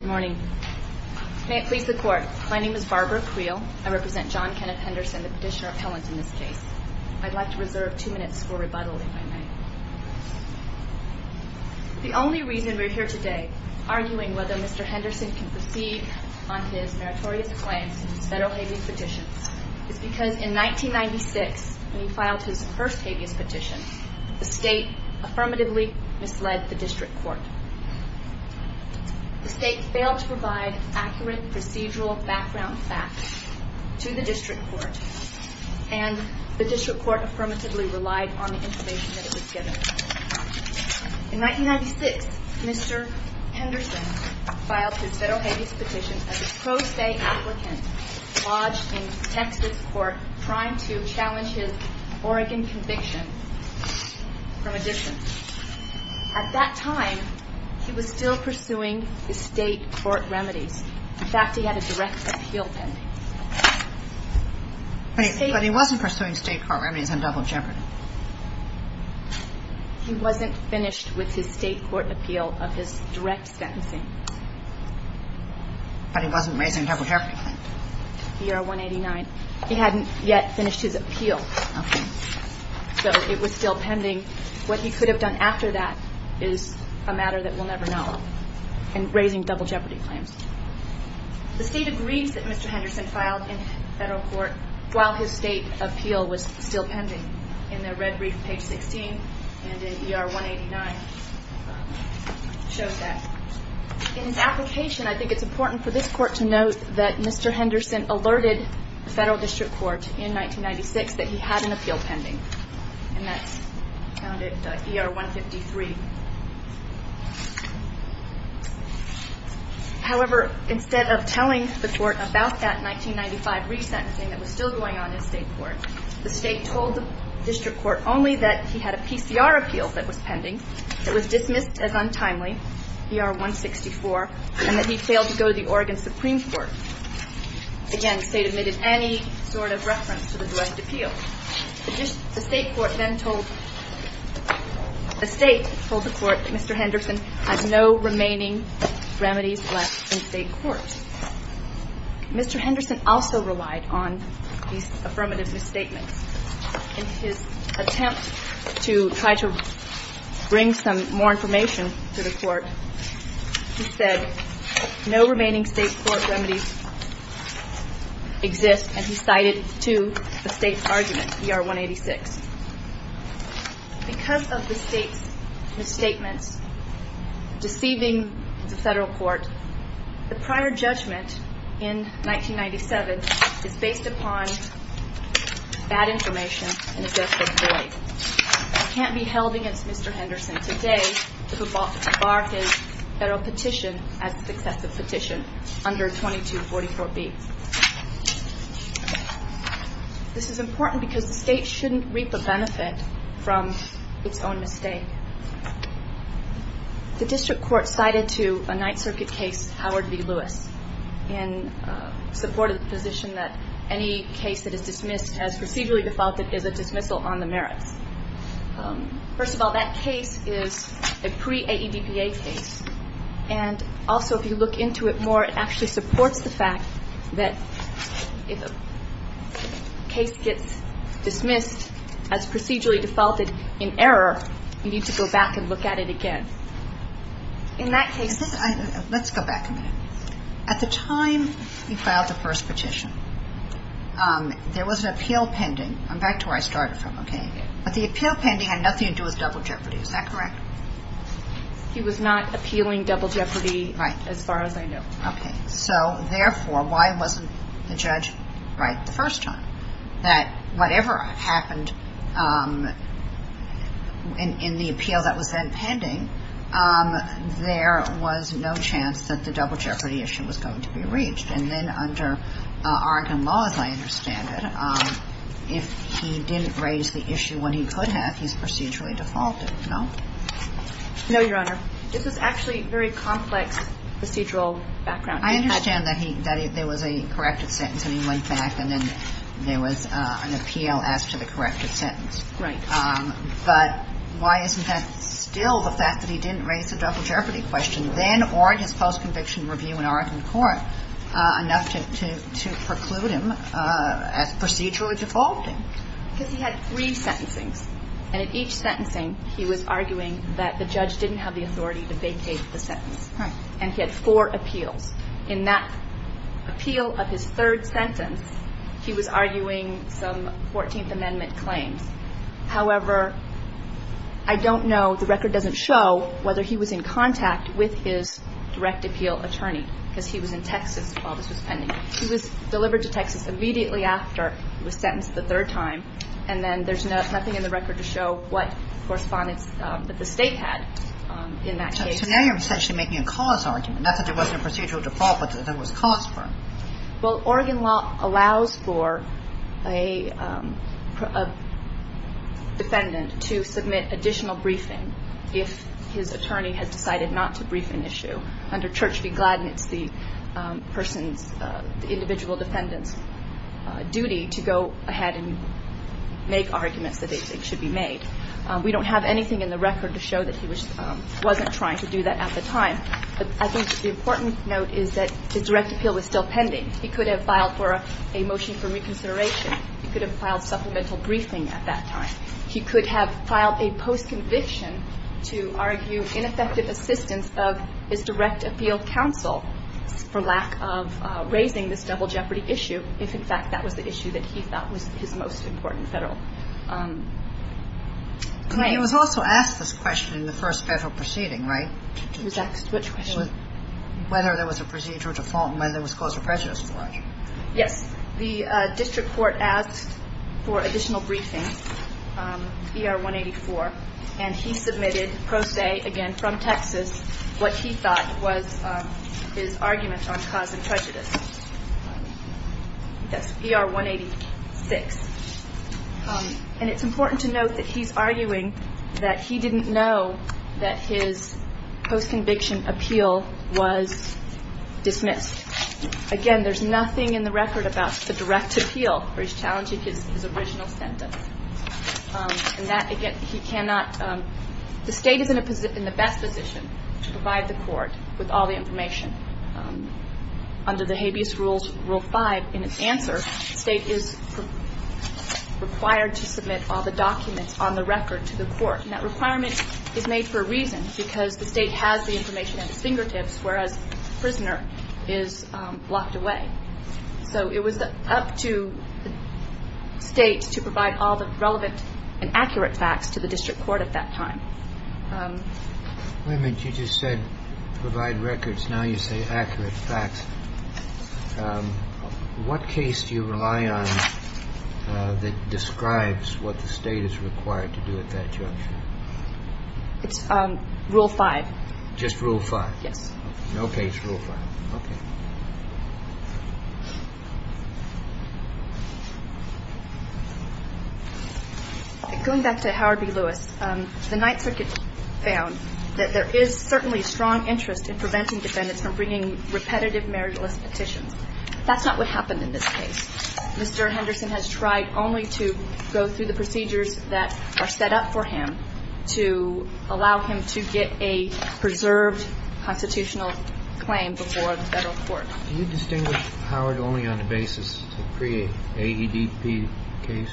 Good morning. May it please the court. My name is Barbara Creel. I represent John Kenneth Henderson, the petitioner appellant in this case. I'd like to reserve two minutes for rebuttal, if I may. The only reason we're here today arguing whether Mr. Henderson can proceed on his meritorious claims in his federal habeas petitions is because in 1996, when he filed his first habeas petition, the state affirmatively misled the district court. The state failed to provide accurate procedural background facts to the district court, and the district court affirmatively relied on the information that it was given. In 1996, Mr. Henderson filed his federal habeas petition as a pro se applicant lodged in Texas court, trying to challenge his Oregon conviction from a distance. At that time, he was still pursuing the state court remedies. In fact, he had a direct appeal pending. But he wasn't pursuing state court remedies on double jeopardy. He wasn't finished with his state court appeal of his direct sentencing. But he wasn't raising double jeopardy claims. ER 189. He hadn't yet finished his appeal, so it was still pending. What he could have done after that is a matter that we'll never know, and raising double jeopardy claims. The state agrees that Mr. Henderson filed in federal court while his state appeal was still pending. In the red brief, page 16, and in ER 189, it shows that. In his application, I think it's important for this court to note that Mr. Henderson alerted the federal district court in 1996 that he had an appeal pending, and that's found at ER 153. However, instead of telling the court about that 1995 resentencing that was still going on in state court, the state told the district court only that he had a PCR appeal that was pending. It was dismissed as untimely, ER 164, and that he failed to go to the Oregon Supreme Court. Again, the state omitted any sort of reference to the direct appeal. The state court then told the court that Mr. Henderson has no remaining remedies left in state court. Mr. Henderson also relied on these affirmative misstatements. In his attempt to try to bring some more information to the court, he said no remaining state court remedies exist, and he cited to the state argument, ER 186. Because of the state's misstatements deceiving the federal court, the prior judgment in 1997 is based upon bad information and a desperate plea. It can't be held against Mr. Henderson today to bar his federal petition as a successive petition under 2244B. This is important because the state shouldn't reap a benefit from its own mistake. The district court cited to a Ninth Circuit case, Howard v. Lewis, in support of the position that any case that is dismissed as procedurally defaulted is a dismissal on the merits. First of all, that case is a pre-AEDPA case, and also if you look into it more, it actually supports the fact that if a case gets dismissed as procedurally defaulted in error, you need to go back and look at it again. In that case... Let's go back a minute. At the time he filed the first petition, there was an appeal pending. I'm back to where I started from, okay? But the appeal pending had nothing to do with double jeopardy. Is that correct? He was not appealing double jeopardy as far as I know. Okay. So, therefore, why wasn't the judge right the first time? That whatever happened in the appeal that was then pending, there was no chance that the double jeopardy issue was going to be reached. And then under Oregon law, as I understand it, if he didn't raise the issue when he could have, he's procedurally defaulted, no? No, Your Honor. This is actually very complex procedural background. I understand that there was a corrected sentence and he went back and then there was an appeal as to the corrected sentence. Right. But why isn't that still the fact that he didn't raise the double jeopardy question then or in his post-conviction review in Oregon court enough to preclude him as procedurally defaulted? Because he had three sentencings. And in each sentencing, he was arguing that the judge didn't have the authority to vacate the sentence. Right. And he had four appeals. In that appeal of his third sentence, he was arguing some 14th Amendment claims. However, I don't know, the record doesn't show, whether he was in contact with his direct appeal attorney because he was in Texas while this was pending. He was delivered to Texas immediately after he was sentenced the third time and then there's nothing in the record to show what correspondence that the state had in that case. So now you're essentially making a cause argument, not that there wasn't a procedural default, but that there was cause for it. Well, Oregon law allows for a defendant to submit additional briefing if his attorney has decided not to brief an issue. So under Church v. Gladden, it's the person's, the individual defendant's duty to go ahead and make arguments that they think should be made. We don't have anything in the record to show that he wasn't trying to do that at the time. But I think the important note is that his direct appeal was still pending. He could have filed for a motion for reconsideration. He could have filed supplemental briefing at that time. He could have filed a post-conviction to argue ineffective assistance of his direct appeal counsel for lack of raising this double jeopardy issue, if in fact that was the issue that he thought was his most important federal claim. He was also asked this question in the first federal proceeding, right? He was asked which question? Whether there was a procedural default and whether there was cause for prejudice for it. Yes. The district court asked for additional briefing, ER-184, and he submitted pro se, again, from Texas, what he thought was his argument on cause of prejudice. That's ER-186. And it's important to note that he's arguing that he didn't know that his post-conviction appeal was dismissed. Again, there's nothing in the record about the direct appeal where he's challenging his original sentence. And that, again, he cannot – the State is in the best position to provide the court with all the information. Under the habeas rules, Rule 5, in its answer, the State is required to submit all the documents on the record to the court. And that requirement is made for a reason because the State has the information at its fingertips, whereas the prisoner is blocked away. So it was up to the State to provide all the relevant and accurate facts to the district court at that time. Wait a minute. You just said provide records. Now you say accurate facts. What case do you rely on that describes what the State is required to do at that juncture? It's Rule 5. Just Rule 5? Yes. No case Rule 5. Okay. Going back to Howard v. Lewis, the Ninth Circuit found that there is certainly strong interest in preventing defendants from bringing repetitive meritless petitions. That's not what happened in this case. Mr. Henderson has tried only to go through the procedures that are set up for him to allow him to get a preserved constitutional claim before the Federal court. Do you distinguish Howard only on the basis of a pre-AEDP case?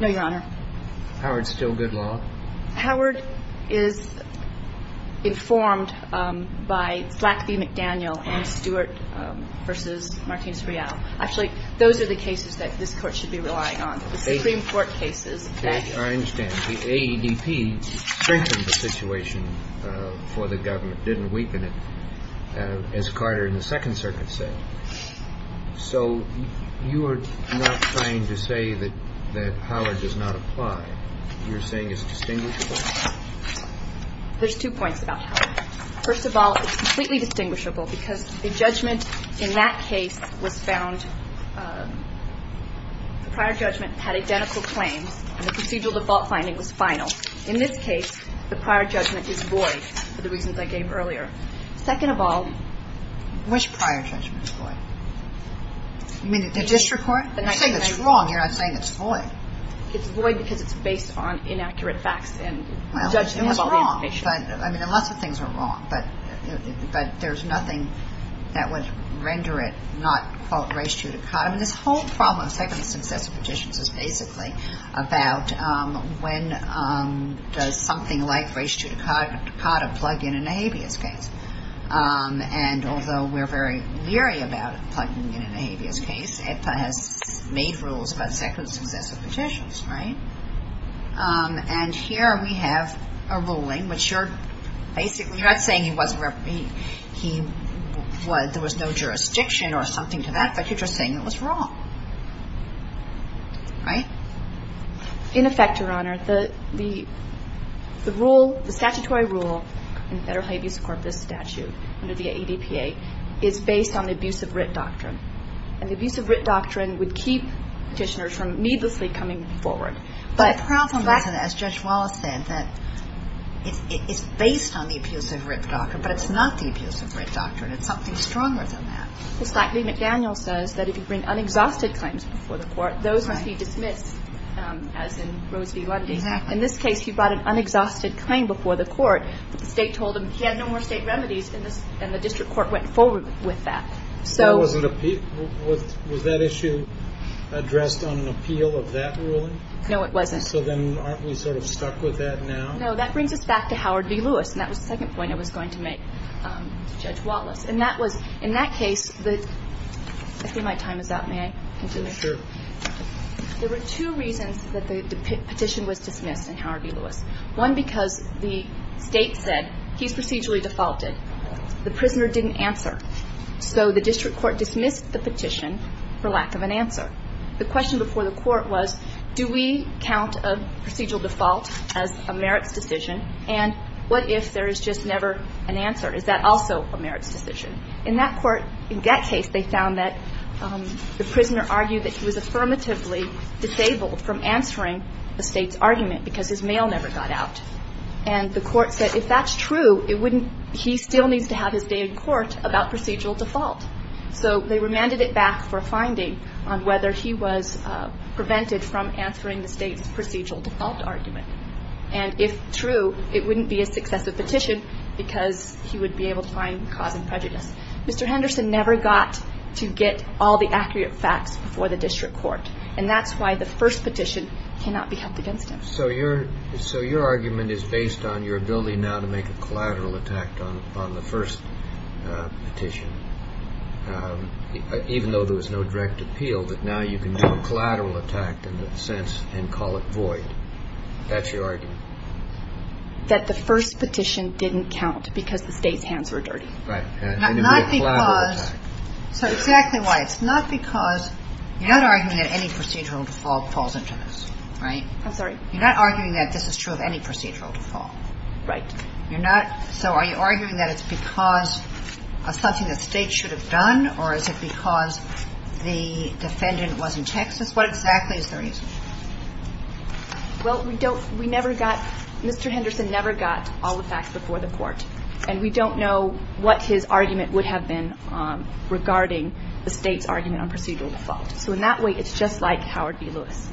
No, Your Honor. Howard's still good law? Howard is informed by Black v. McDaniel and Stewart v. Martinez-Real. Actually, those are the cases that this Court should be relying on, the Supreme Court cases. I understand. The AEDP strengthened the situation for the government, didn't weaken it, as Carter in the Second Circuit said. So you are not trying to say that Howard does not apply. You're saying it's distinguishable? There's two points about Howard. First of all, it's completely distinguishable because the judgment in that case was found, the prior judgment had identical claims and the procedural default finding was final. In this case, the prior judgment is void for the reasons I gave earlier. Second of all, Which prior judgment is void? You mean the district court? You're not saying it's wrong. You're not saying it's void. It's void because it's based on inaccurate facts and judgment of all the information. I mean, lots of things are wrong, but there's nothing that would render it not, quote, race 2 to Carter. I mean, this whole problem of second successive petitions is basically about when does something like race 2 to Carter plug in in a habeas case. And although we're very leery about plugging in a habeas case, AEDPA has made rules about second successive petitions, right? And here we have a ruling which you're basically, you're not saying there was no jurisdiction or something to that, but you're just saying it was wrong. Right? In effect, Your Honor, the statutory rule in federal habeas corpus statute under the AEDPA is based on the abuse of writ doctrine. And the abuse of writ doctrine would keep petitioners from needlessly coming forward. But the problem is, as Judge Wallace said, that it's based on the abuse of writ doctrine, but it's not the abuse of writ doctrine. It's something stronger than that. It's like Lee McDaniel says, that if you bring unexhausted claims before the court, those will be dismissed, as in Rose v. Lundy. In this case, he brought an unexhausted claim before the court, but the state told him he had no more state remedies, and the district court went forward with that. Was that issue addressed on an appeal of that ruling? No, it wasn't. So then aren't we sort of stuck with that now? No. That brings us back to Howard v. Lewis, and that was the second point I was going to make to Judge Wallace. And that was, in that case, I see my time is up. May I continue? Sure. There were two reasons that the petition was dismissed in Howard v. Lewis. One, because the state said, he's procedurally defaulted. The prisoner didn't answer. So the district court dismissed the petition for lack of an answer. The question before the court was, do we count a procedural default as a merits decision, and what if there is just never an answer? Is that also a merits decision? In that court, in that case, they found that the prisoner argued that he was affirmatively disabled from answering a state's argument because his mail never got out. And the court said, if that's true, he still needs to have his day in court about procedural default. So they remanded it back for a finding on whether he was prevented from answering the state's procedural default argument. And if true, it wouldn't be a successive petition because he would be able to find cause and prejudice. Mr. Henderson never got to get all the accurate facts before the district court, and that's why the first petition cannot be held against him. So your argument is based on your ability now to make a collateral attack on the first petition, even though there was no direct appeal, that now you can do a collateral attack in a sense and call it void. That's your argument? That the first petition didn't count because the state's hands were dirty. Right. Not because – so exactly why. It's not because – you're not arguing that any procedural default falls into this, right? I'm sorry? You're not arguing that this is true of any procedural default. Right. You're not – so are you arguing that it's because of something the state should have done, or is it because the defendant was in Texas? What exactly is the reason? Well, we don't – we never got – Mr. Henderson never got all the facts before the court, and we don't know what his argument would have been regarding the state's argument on procedural default. So in that way, it's just like Howard v. Lewis.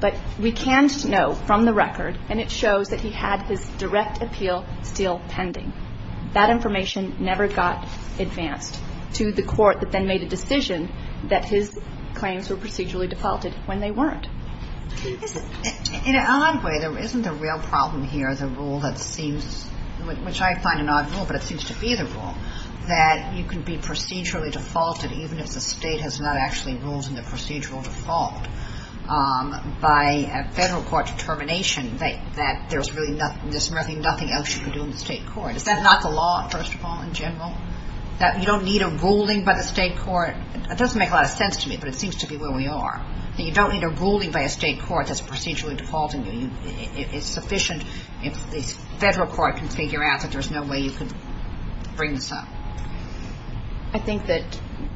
But we can know from the record, and it shows that he had his direct appeal still pending. That information never got advanced to the court that then made a decision that his claims were procedurally defaulted when they weren't. In an odd way, there isn't a real problem here, the rule that seems – which I find an odd rule, but it seems to be the rule that you can be procedurally defaulted even if the state has not actually ruled in the procedural default. By a federal court determination that there's really nothing else you can do in the state court. Is that not the law, first of all, in general? That you don't need a ruling by the state court? That doesn't make a lot of sense to me, but it seems to be where we are. That you don't need a ruling by a state court that's procedurally defaulting you. It's sufficient if the federal court can figure out that there's no way you can bring this up. I think that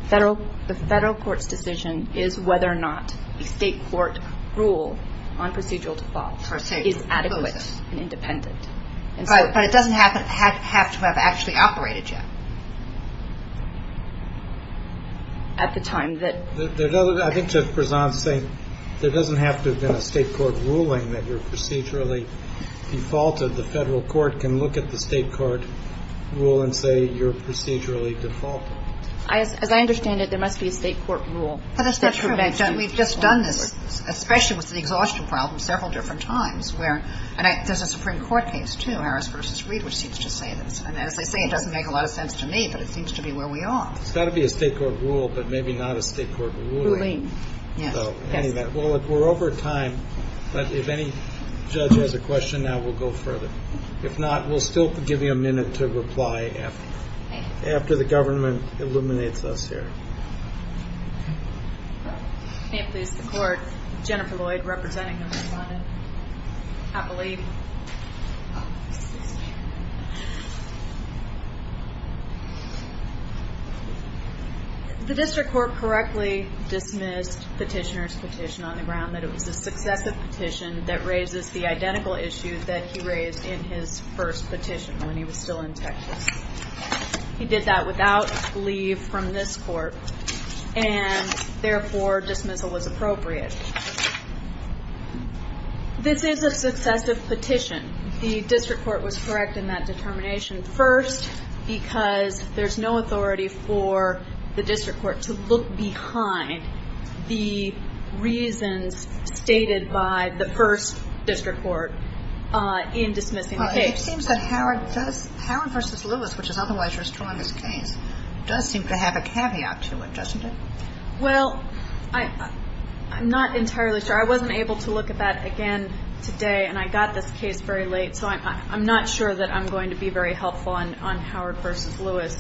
the federal court's decision is whether or not the state court rule on procedural default is adequate and independent. But it doesn't have to have actually operated yet. At the time that – I think that Prasad's saying there doesn't have to have been a state court ruling that you're procedurally defaulted. So the federal court can look at the state court rule and say you're procedurally defaulted. As I understand it, there must be a state court rule. That's true. We've just done this, especially with the exhaustion problem, several different times where – and there's a Supreme Court case, too, Harris v. Reed, which seems to say this. And as they say, it doesn't make a lot of sense to me, but it seems to be where we are. It's got to be a state court rule, but maybe not a state court ruling. Yes. We're over time, but if any judge has a question now, we'll go further. If not, we'll still give you a minute to reply after the government eliminates us here. May it please the court. Jennifer Lloyd, representing the respondent. Happily. Happily. The district court correctly dismissed petitioner's petition on the ground that it was a successive petition that raises the identical issue that he raised in his first petition when he was still in Texas. He did that without leave from this court, and therefore dismissal was appropriate. This is a successive petition. The district court was correct in that determination. First, because there's no authority for the district court to look behind the reasons stated by the first district court in dismissing the case. Well, it seems that Howard does – Howard v. Lewis, which is otherwise restoring this case, does seem to have a caveat to it, doesn't it? Well, I'm not entirely sure. I wasn't able to look at that again today, and I got this case very late, so I'm not sure that I'm going to be very helpful on Howard v. Lewis,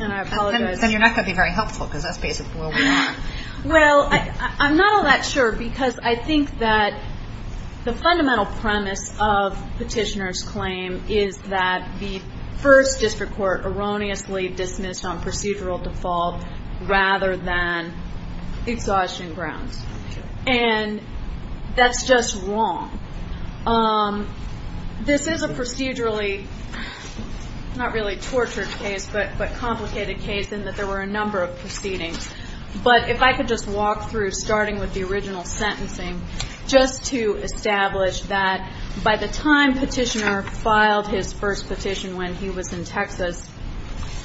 and I apologize. Then you're not going to be very helpful because that's basically where we are. Well, I'm not all that sure because I think that the fundamental premise of petitioner's claim is that the first district court erroneously dismissed on procedural default rather than exhaustion grounds, and that's just wrong. This is a procedurally not really tortured case but complicated case in that there were a number of proceedings. But if I could just walk through, starting with the original sentencing, just to establish that by the time petitioner filed his first petition when he was in Texas,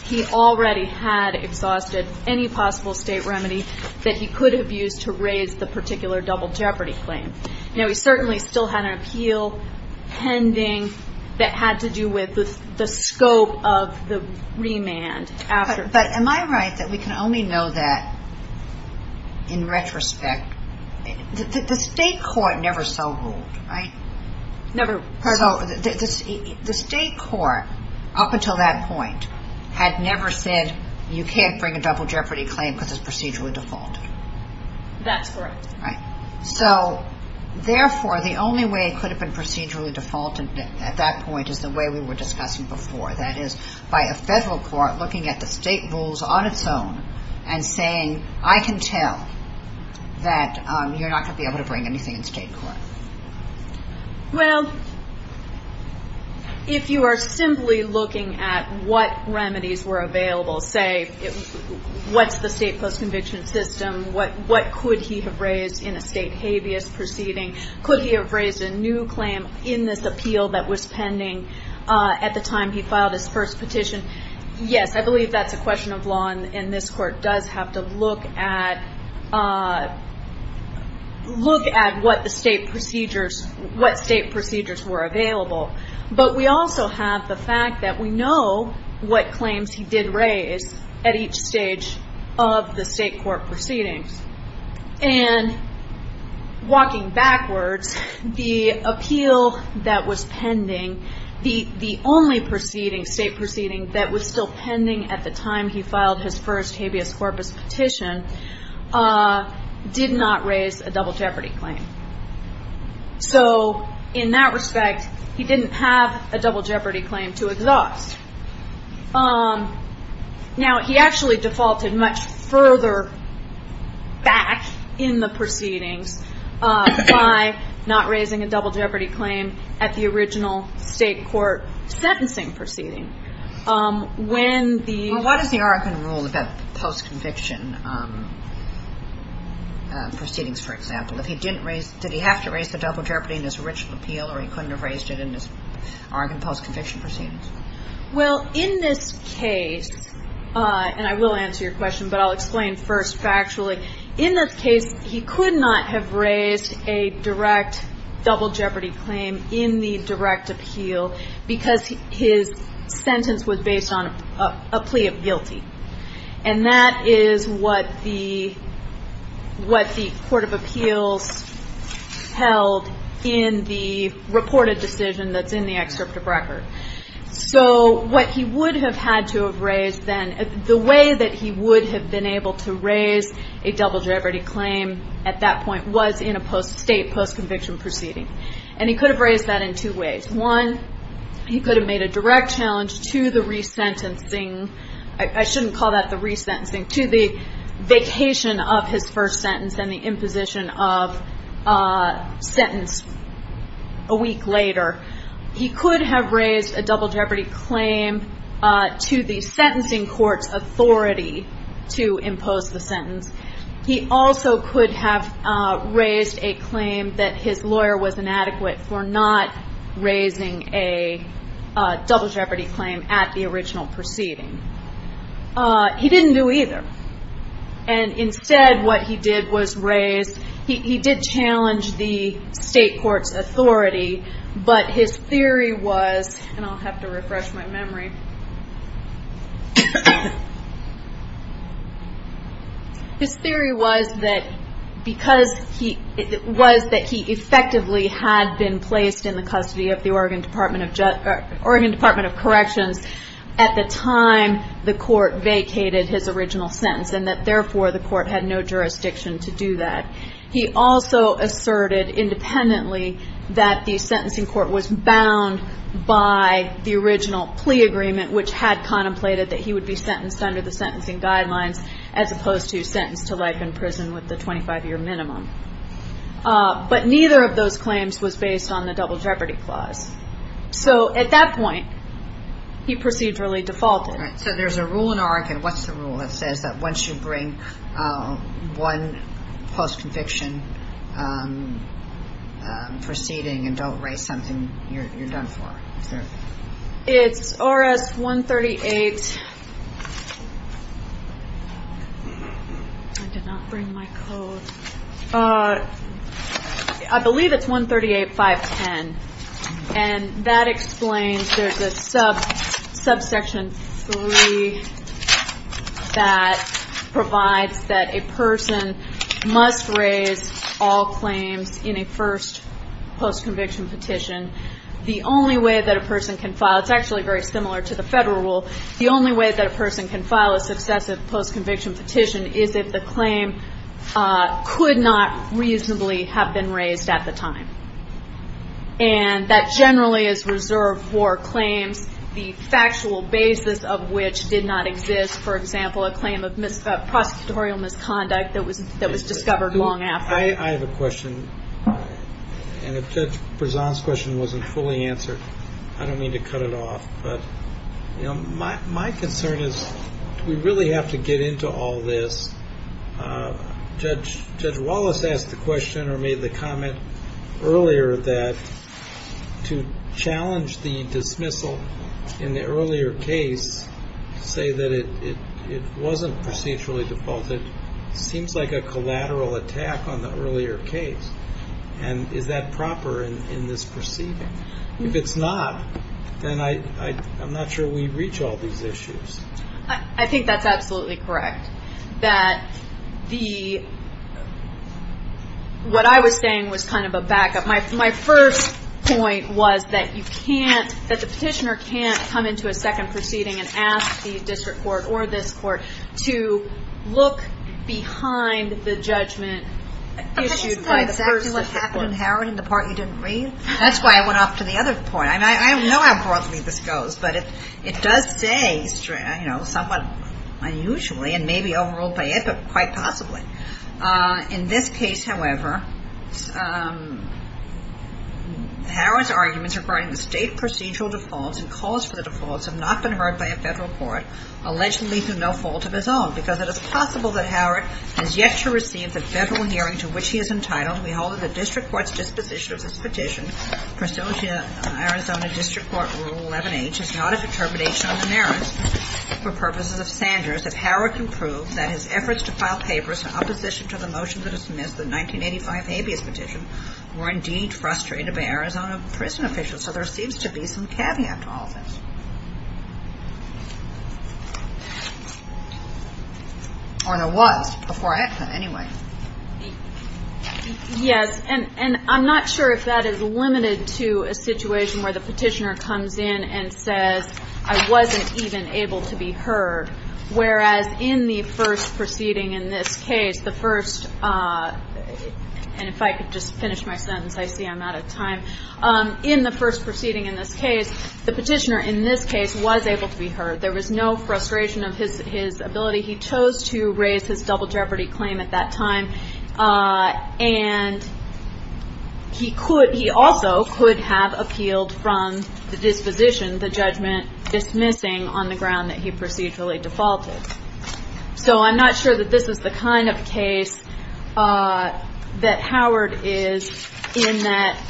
he already had exhausted any possible state remedy that he could have used to raise the particular double jeopardy claim. Now, he certainly still had an appeal pending that had to do with the scope of the remand. But am I right that we can only know that in retrospect? The state court never so ruled, right? The state court up until that point had never said, you can't bring a double jeopardy claim because it's procedurally defaulted. That's correct. So therefore, the only way it could have been procedurally defaulted at that point is the way we were discussing before. That is, by a federal court looking at the state rules on its own and saying, I can tell that you're not going to be able to bring anything in state court. Well, if you are simply looking at what remedies were available, say what's the state post-conviction system, what could he have raised in a state habeas proceeding, could he have raised a new claim in this appeal that was pending at the time he filed his first petition? Yes, I believe that's a question of law, and this court does have to look at what state procedures were available. But we also have the fact that we know what claims he did raise at each stage of the state court proceedings. And walking backwards, the appeal that was pending, the only state proceeding that was still pending at the time he filed his first habeas corpus petition, did not raise a double jeopardy claim. So in that respect, he didn't have a double jeopardy claim to exhaust. Now, he actually defaulted much further back in the proceedings by not raising a double jeopardy claim at the original state court sentencing proceeding. Well, what is the Oregon rule about post-conviction proceedings, for example? Did he have to raise the double jeopardy in his original appeal or he couldn't have raised it in his Oregon post-conviction proceedings? Well, in this case, and I will answer your question, but I'll explain first factually, in this case he could not have raised a direct double jeopardy claim in the direct appeal because his sentence was based on a plea of guilty. And that is what the court of appeals held in the reported decision that's in the excerpt of record. So what he would have had to have raised then, the way that he would have been able to raise a double jeopardy claim at that point was in a state post-conviction proceeding. And he could have raised that in two ways. One, he could have made a direct challenge to the resentencing. I shouldn't call that the resentencing. To the vacation of his first sentence and the imposition of a sentence a week later. He could have raised a double jeopardy claim to the sentencing court's authority to impose the sentence. He also could have raised a claim that his lawyer was inadequate for not raising a double jeopardy claim at the original proceeding. He didn't do either. And instead what he did was raise, he did challenge the state court's authority, but his theory was, and I'll have to refresh my memory. His theory was that because he, was that he effectively had been placed in the custody of the Oregon Department of Corrections at the time the court vacated his original sentence and that therefore the court had no jurisdiction to do that. He also asserted independently that the sentencing court was bound by the original plea agreement which had contemplated that he would be sentenced under the sentencing guidelines as opposed to sentenced to life in prison with the 25 year minimum. But neither of those claims was based on the double jeopardy clause. So at that point he procedurally defaulted. So there's a rule in Oregon, what's the rule, that says that once you bring one post-conviction proceeding and don't raise something, you're done for. It's RS-138, I did not bring my code. I believe it's 138-510. And that explains, there's a subsection 3 that provides that a person must raise all claims in a first post-conviction petition. The only way that a person can file, it's actually very similar to the federal rule, the only way that a person can file a successive post-conviction petition is if the claim could not reasonably have been raised at the time. And that generally is reserved for claims, the factual basis of which did not exist. For example, a claim of prosecutorial misconduct that was discovered long after. I have a question, and if Judge Prezant's question wasn't fully answered, I don't mean to cut it off, but my concern is do we really have to get into all this? Judge Wallace asked the question or made the comment earlier that to challenge the dismissal in the earlier case, to say that it wasn't procedurally defaulted, seems like a collateral attack on the earlier case. And is that proper in this proceeding? If it's not, then I'm not sure we reach all these issues. I think that's absolutely correct. What I was saying was kind of a backup. My first point was that you can't, that the petitioner can't come into a second proceeding and ask the district court or this court to look behind the judgment issued by the person. I can't say exactly what happened, Harrod, in the part you didn't read. That's why I went off to the other point. I mean, I know how broadly this goes, but it does say somewhat unusually and maybe overruled by it, but quite possibly. In this case, however, Harrod's arguments regarding the state procedural defaults and calls for the defaults have not been heard by a federal court, allegedly through no fault of his own, because it is possible that Harrod has yet to receive the federal hearing to which he is entitled. We hold it the district court's disposition of this petition, Priscilla, Arizona District Court Rule 11H, is not a determination on the merits for purposes of Sanders if Harrod can prove that his efforts to file papers in opposition to the motion that dismissed the 1985 habeas petition were indeed frustrated by Arizona prison officials. So there seems to be some caveat to all of this. Or there was before I asked that, anyway. Yes. And I'm not sure if that is limited to a situation where the petitioner comes in and says, I wasn't even able to be heard, whereas in the first proceeding in this case, the first, and if I could just finish my sentence, I see I'm out of time. In the first proceeding in this case, the petitioner in this case was able to be heard. There was no frustration of his ability. He chose to raise his double jeopardy claim at that time, and he also could have appealed from the disposition, the judgment dismissing on the ground that he procedurally defaulted. So I'm not sure that this is the kind of case that Howard is in that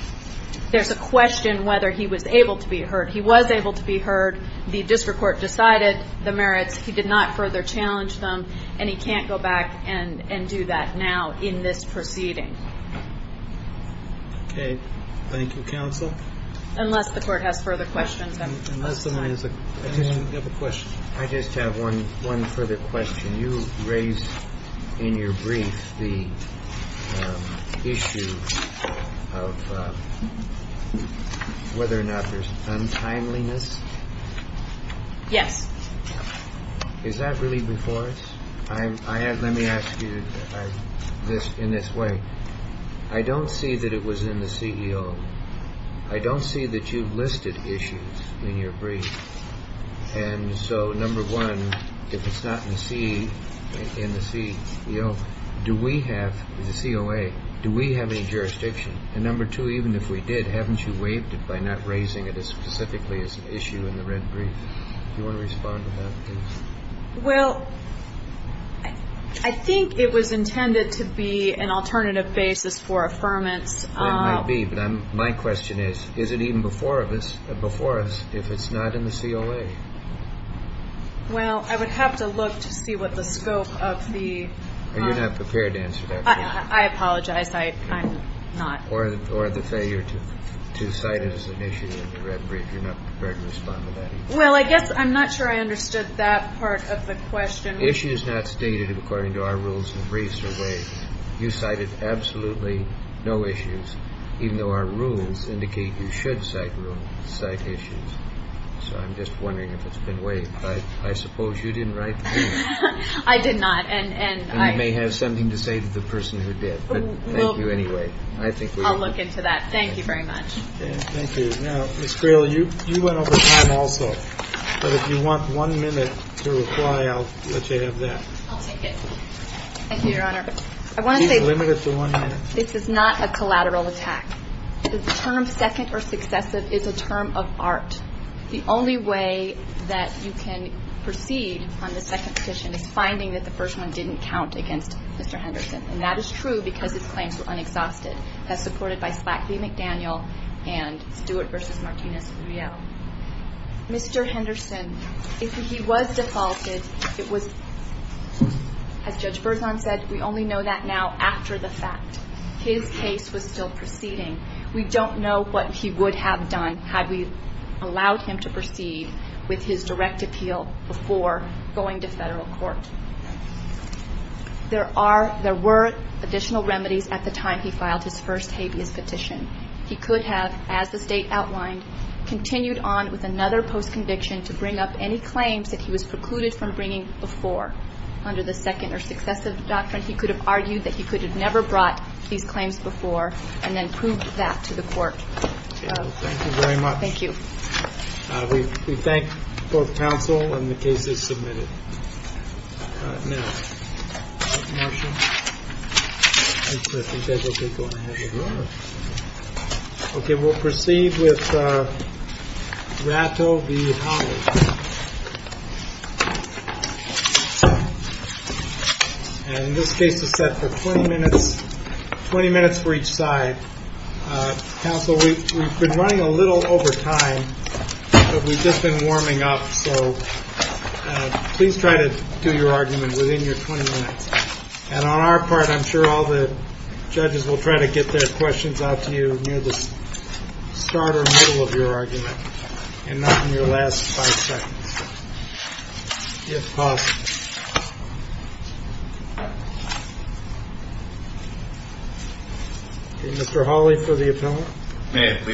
there's a question whether he was able to be heard. He was able to be heard. The district court decided the merits. He did not further challenge them, and he can't go back and do that now in this proceeding. Okay. Thank you, counsel. Unless the court has further questions. I just have one further question. Can you raise in your brief the issue of whether or not there's untimeliness? Yes. Is that really before us? Let me ask you in this way. I don't see that it was in the CEO. I don't see that you've listed issues in your brief. And so, number one, if it's not in the CEO, do we have, the COA, do we have any jurisdiction? And number two, even if we did, haven't you waived it by not raising it as specifically as an issue in the red brief? Do you want to respond to that, please? Well, I think it was intended to be an alternative basis for affirmance. It might be, but my question is, is it even before us if it's not in the COA? Well, I would have to look to see what the scope of the... And you're not prepared to answer that question? I apologize. I'm not. Or the failure to cite it as an issue in the red brief. You're not prepared to respond to that either? Well, I guess I'm not sure I understood that part of the question. Issues not stated according to our rules in briefs are waived. You cited absolutely no issues, even though our rules indicate you should cite issues. So I'm just wondering if it's been waived. I suppose you didn't write the brief. I did not. And you may have something to say to the person who did. But thank you anyway. I'll look into that. Thank you very much. Thank you. Now, Ms. Grail, you went over time also. But if you want one minute to reply, I'll let you have that. I'll take it. Thank you, Your Honor. She's limited to one minute. This is not a collateral attack. The term second or successive is a term of art. The only way that you can proceed on the second petition is finding that the first one didn't count against Mr. Henderson. And that is true because his claims were unexhausted, as supported by Slackey McDaniel and Stewart v. Martinez-Rielle. Mr. Henderson, if he was defaulted, it was, as Judge Berzon said, we only know that now after the fact. His case was still proceeding. We don't know what he would have done had we allowed him to proceed with his direct appeal before going to federal court. There were additional remedies at the time he filed his first habeas petition. He could have, as the State outlined, continued on with another post-conviction to bring up any claims that he was precluded from bringing before. Under the second or successive doctrine, he could have argued that he could have never brought these claims before and then proved that to the court. Thank you very much. Thank you. We thank both counsel and the cases submitted. Now. OK, we'll proceed with Rato v. Hollis. And this case is set for 20 minutes, 20 minutes for each side. Counsel, we've been running a little over time, but we've just been warming up. So please try to do your argument within your 20 minutes. And on our part, I'm sure all the judges will try to get their questions out to you near the start or middle of your argument. And not in your last five seconds, if possible. Mr. Hawley for the appellant. May we.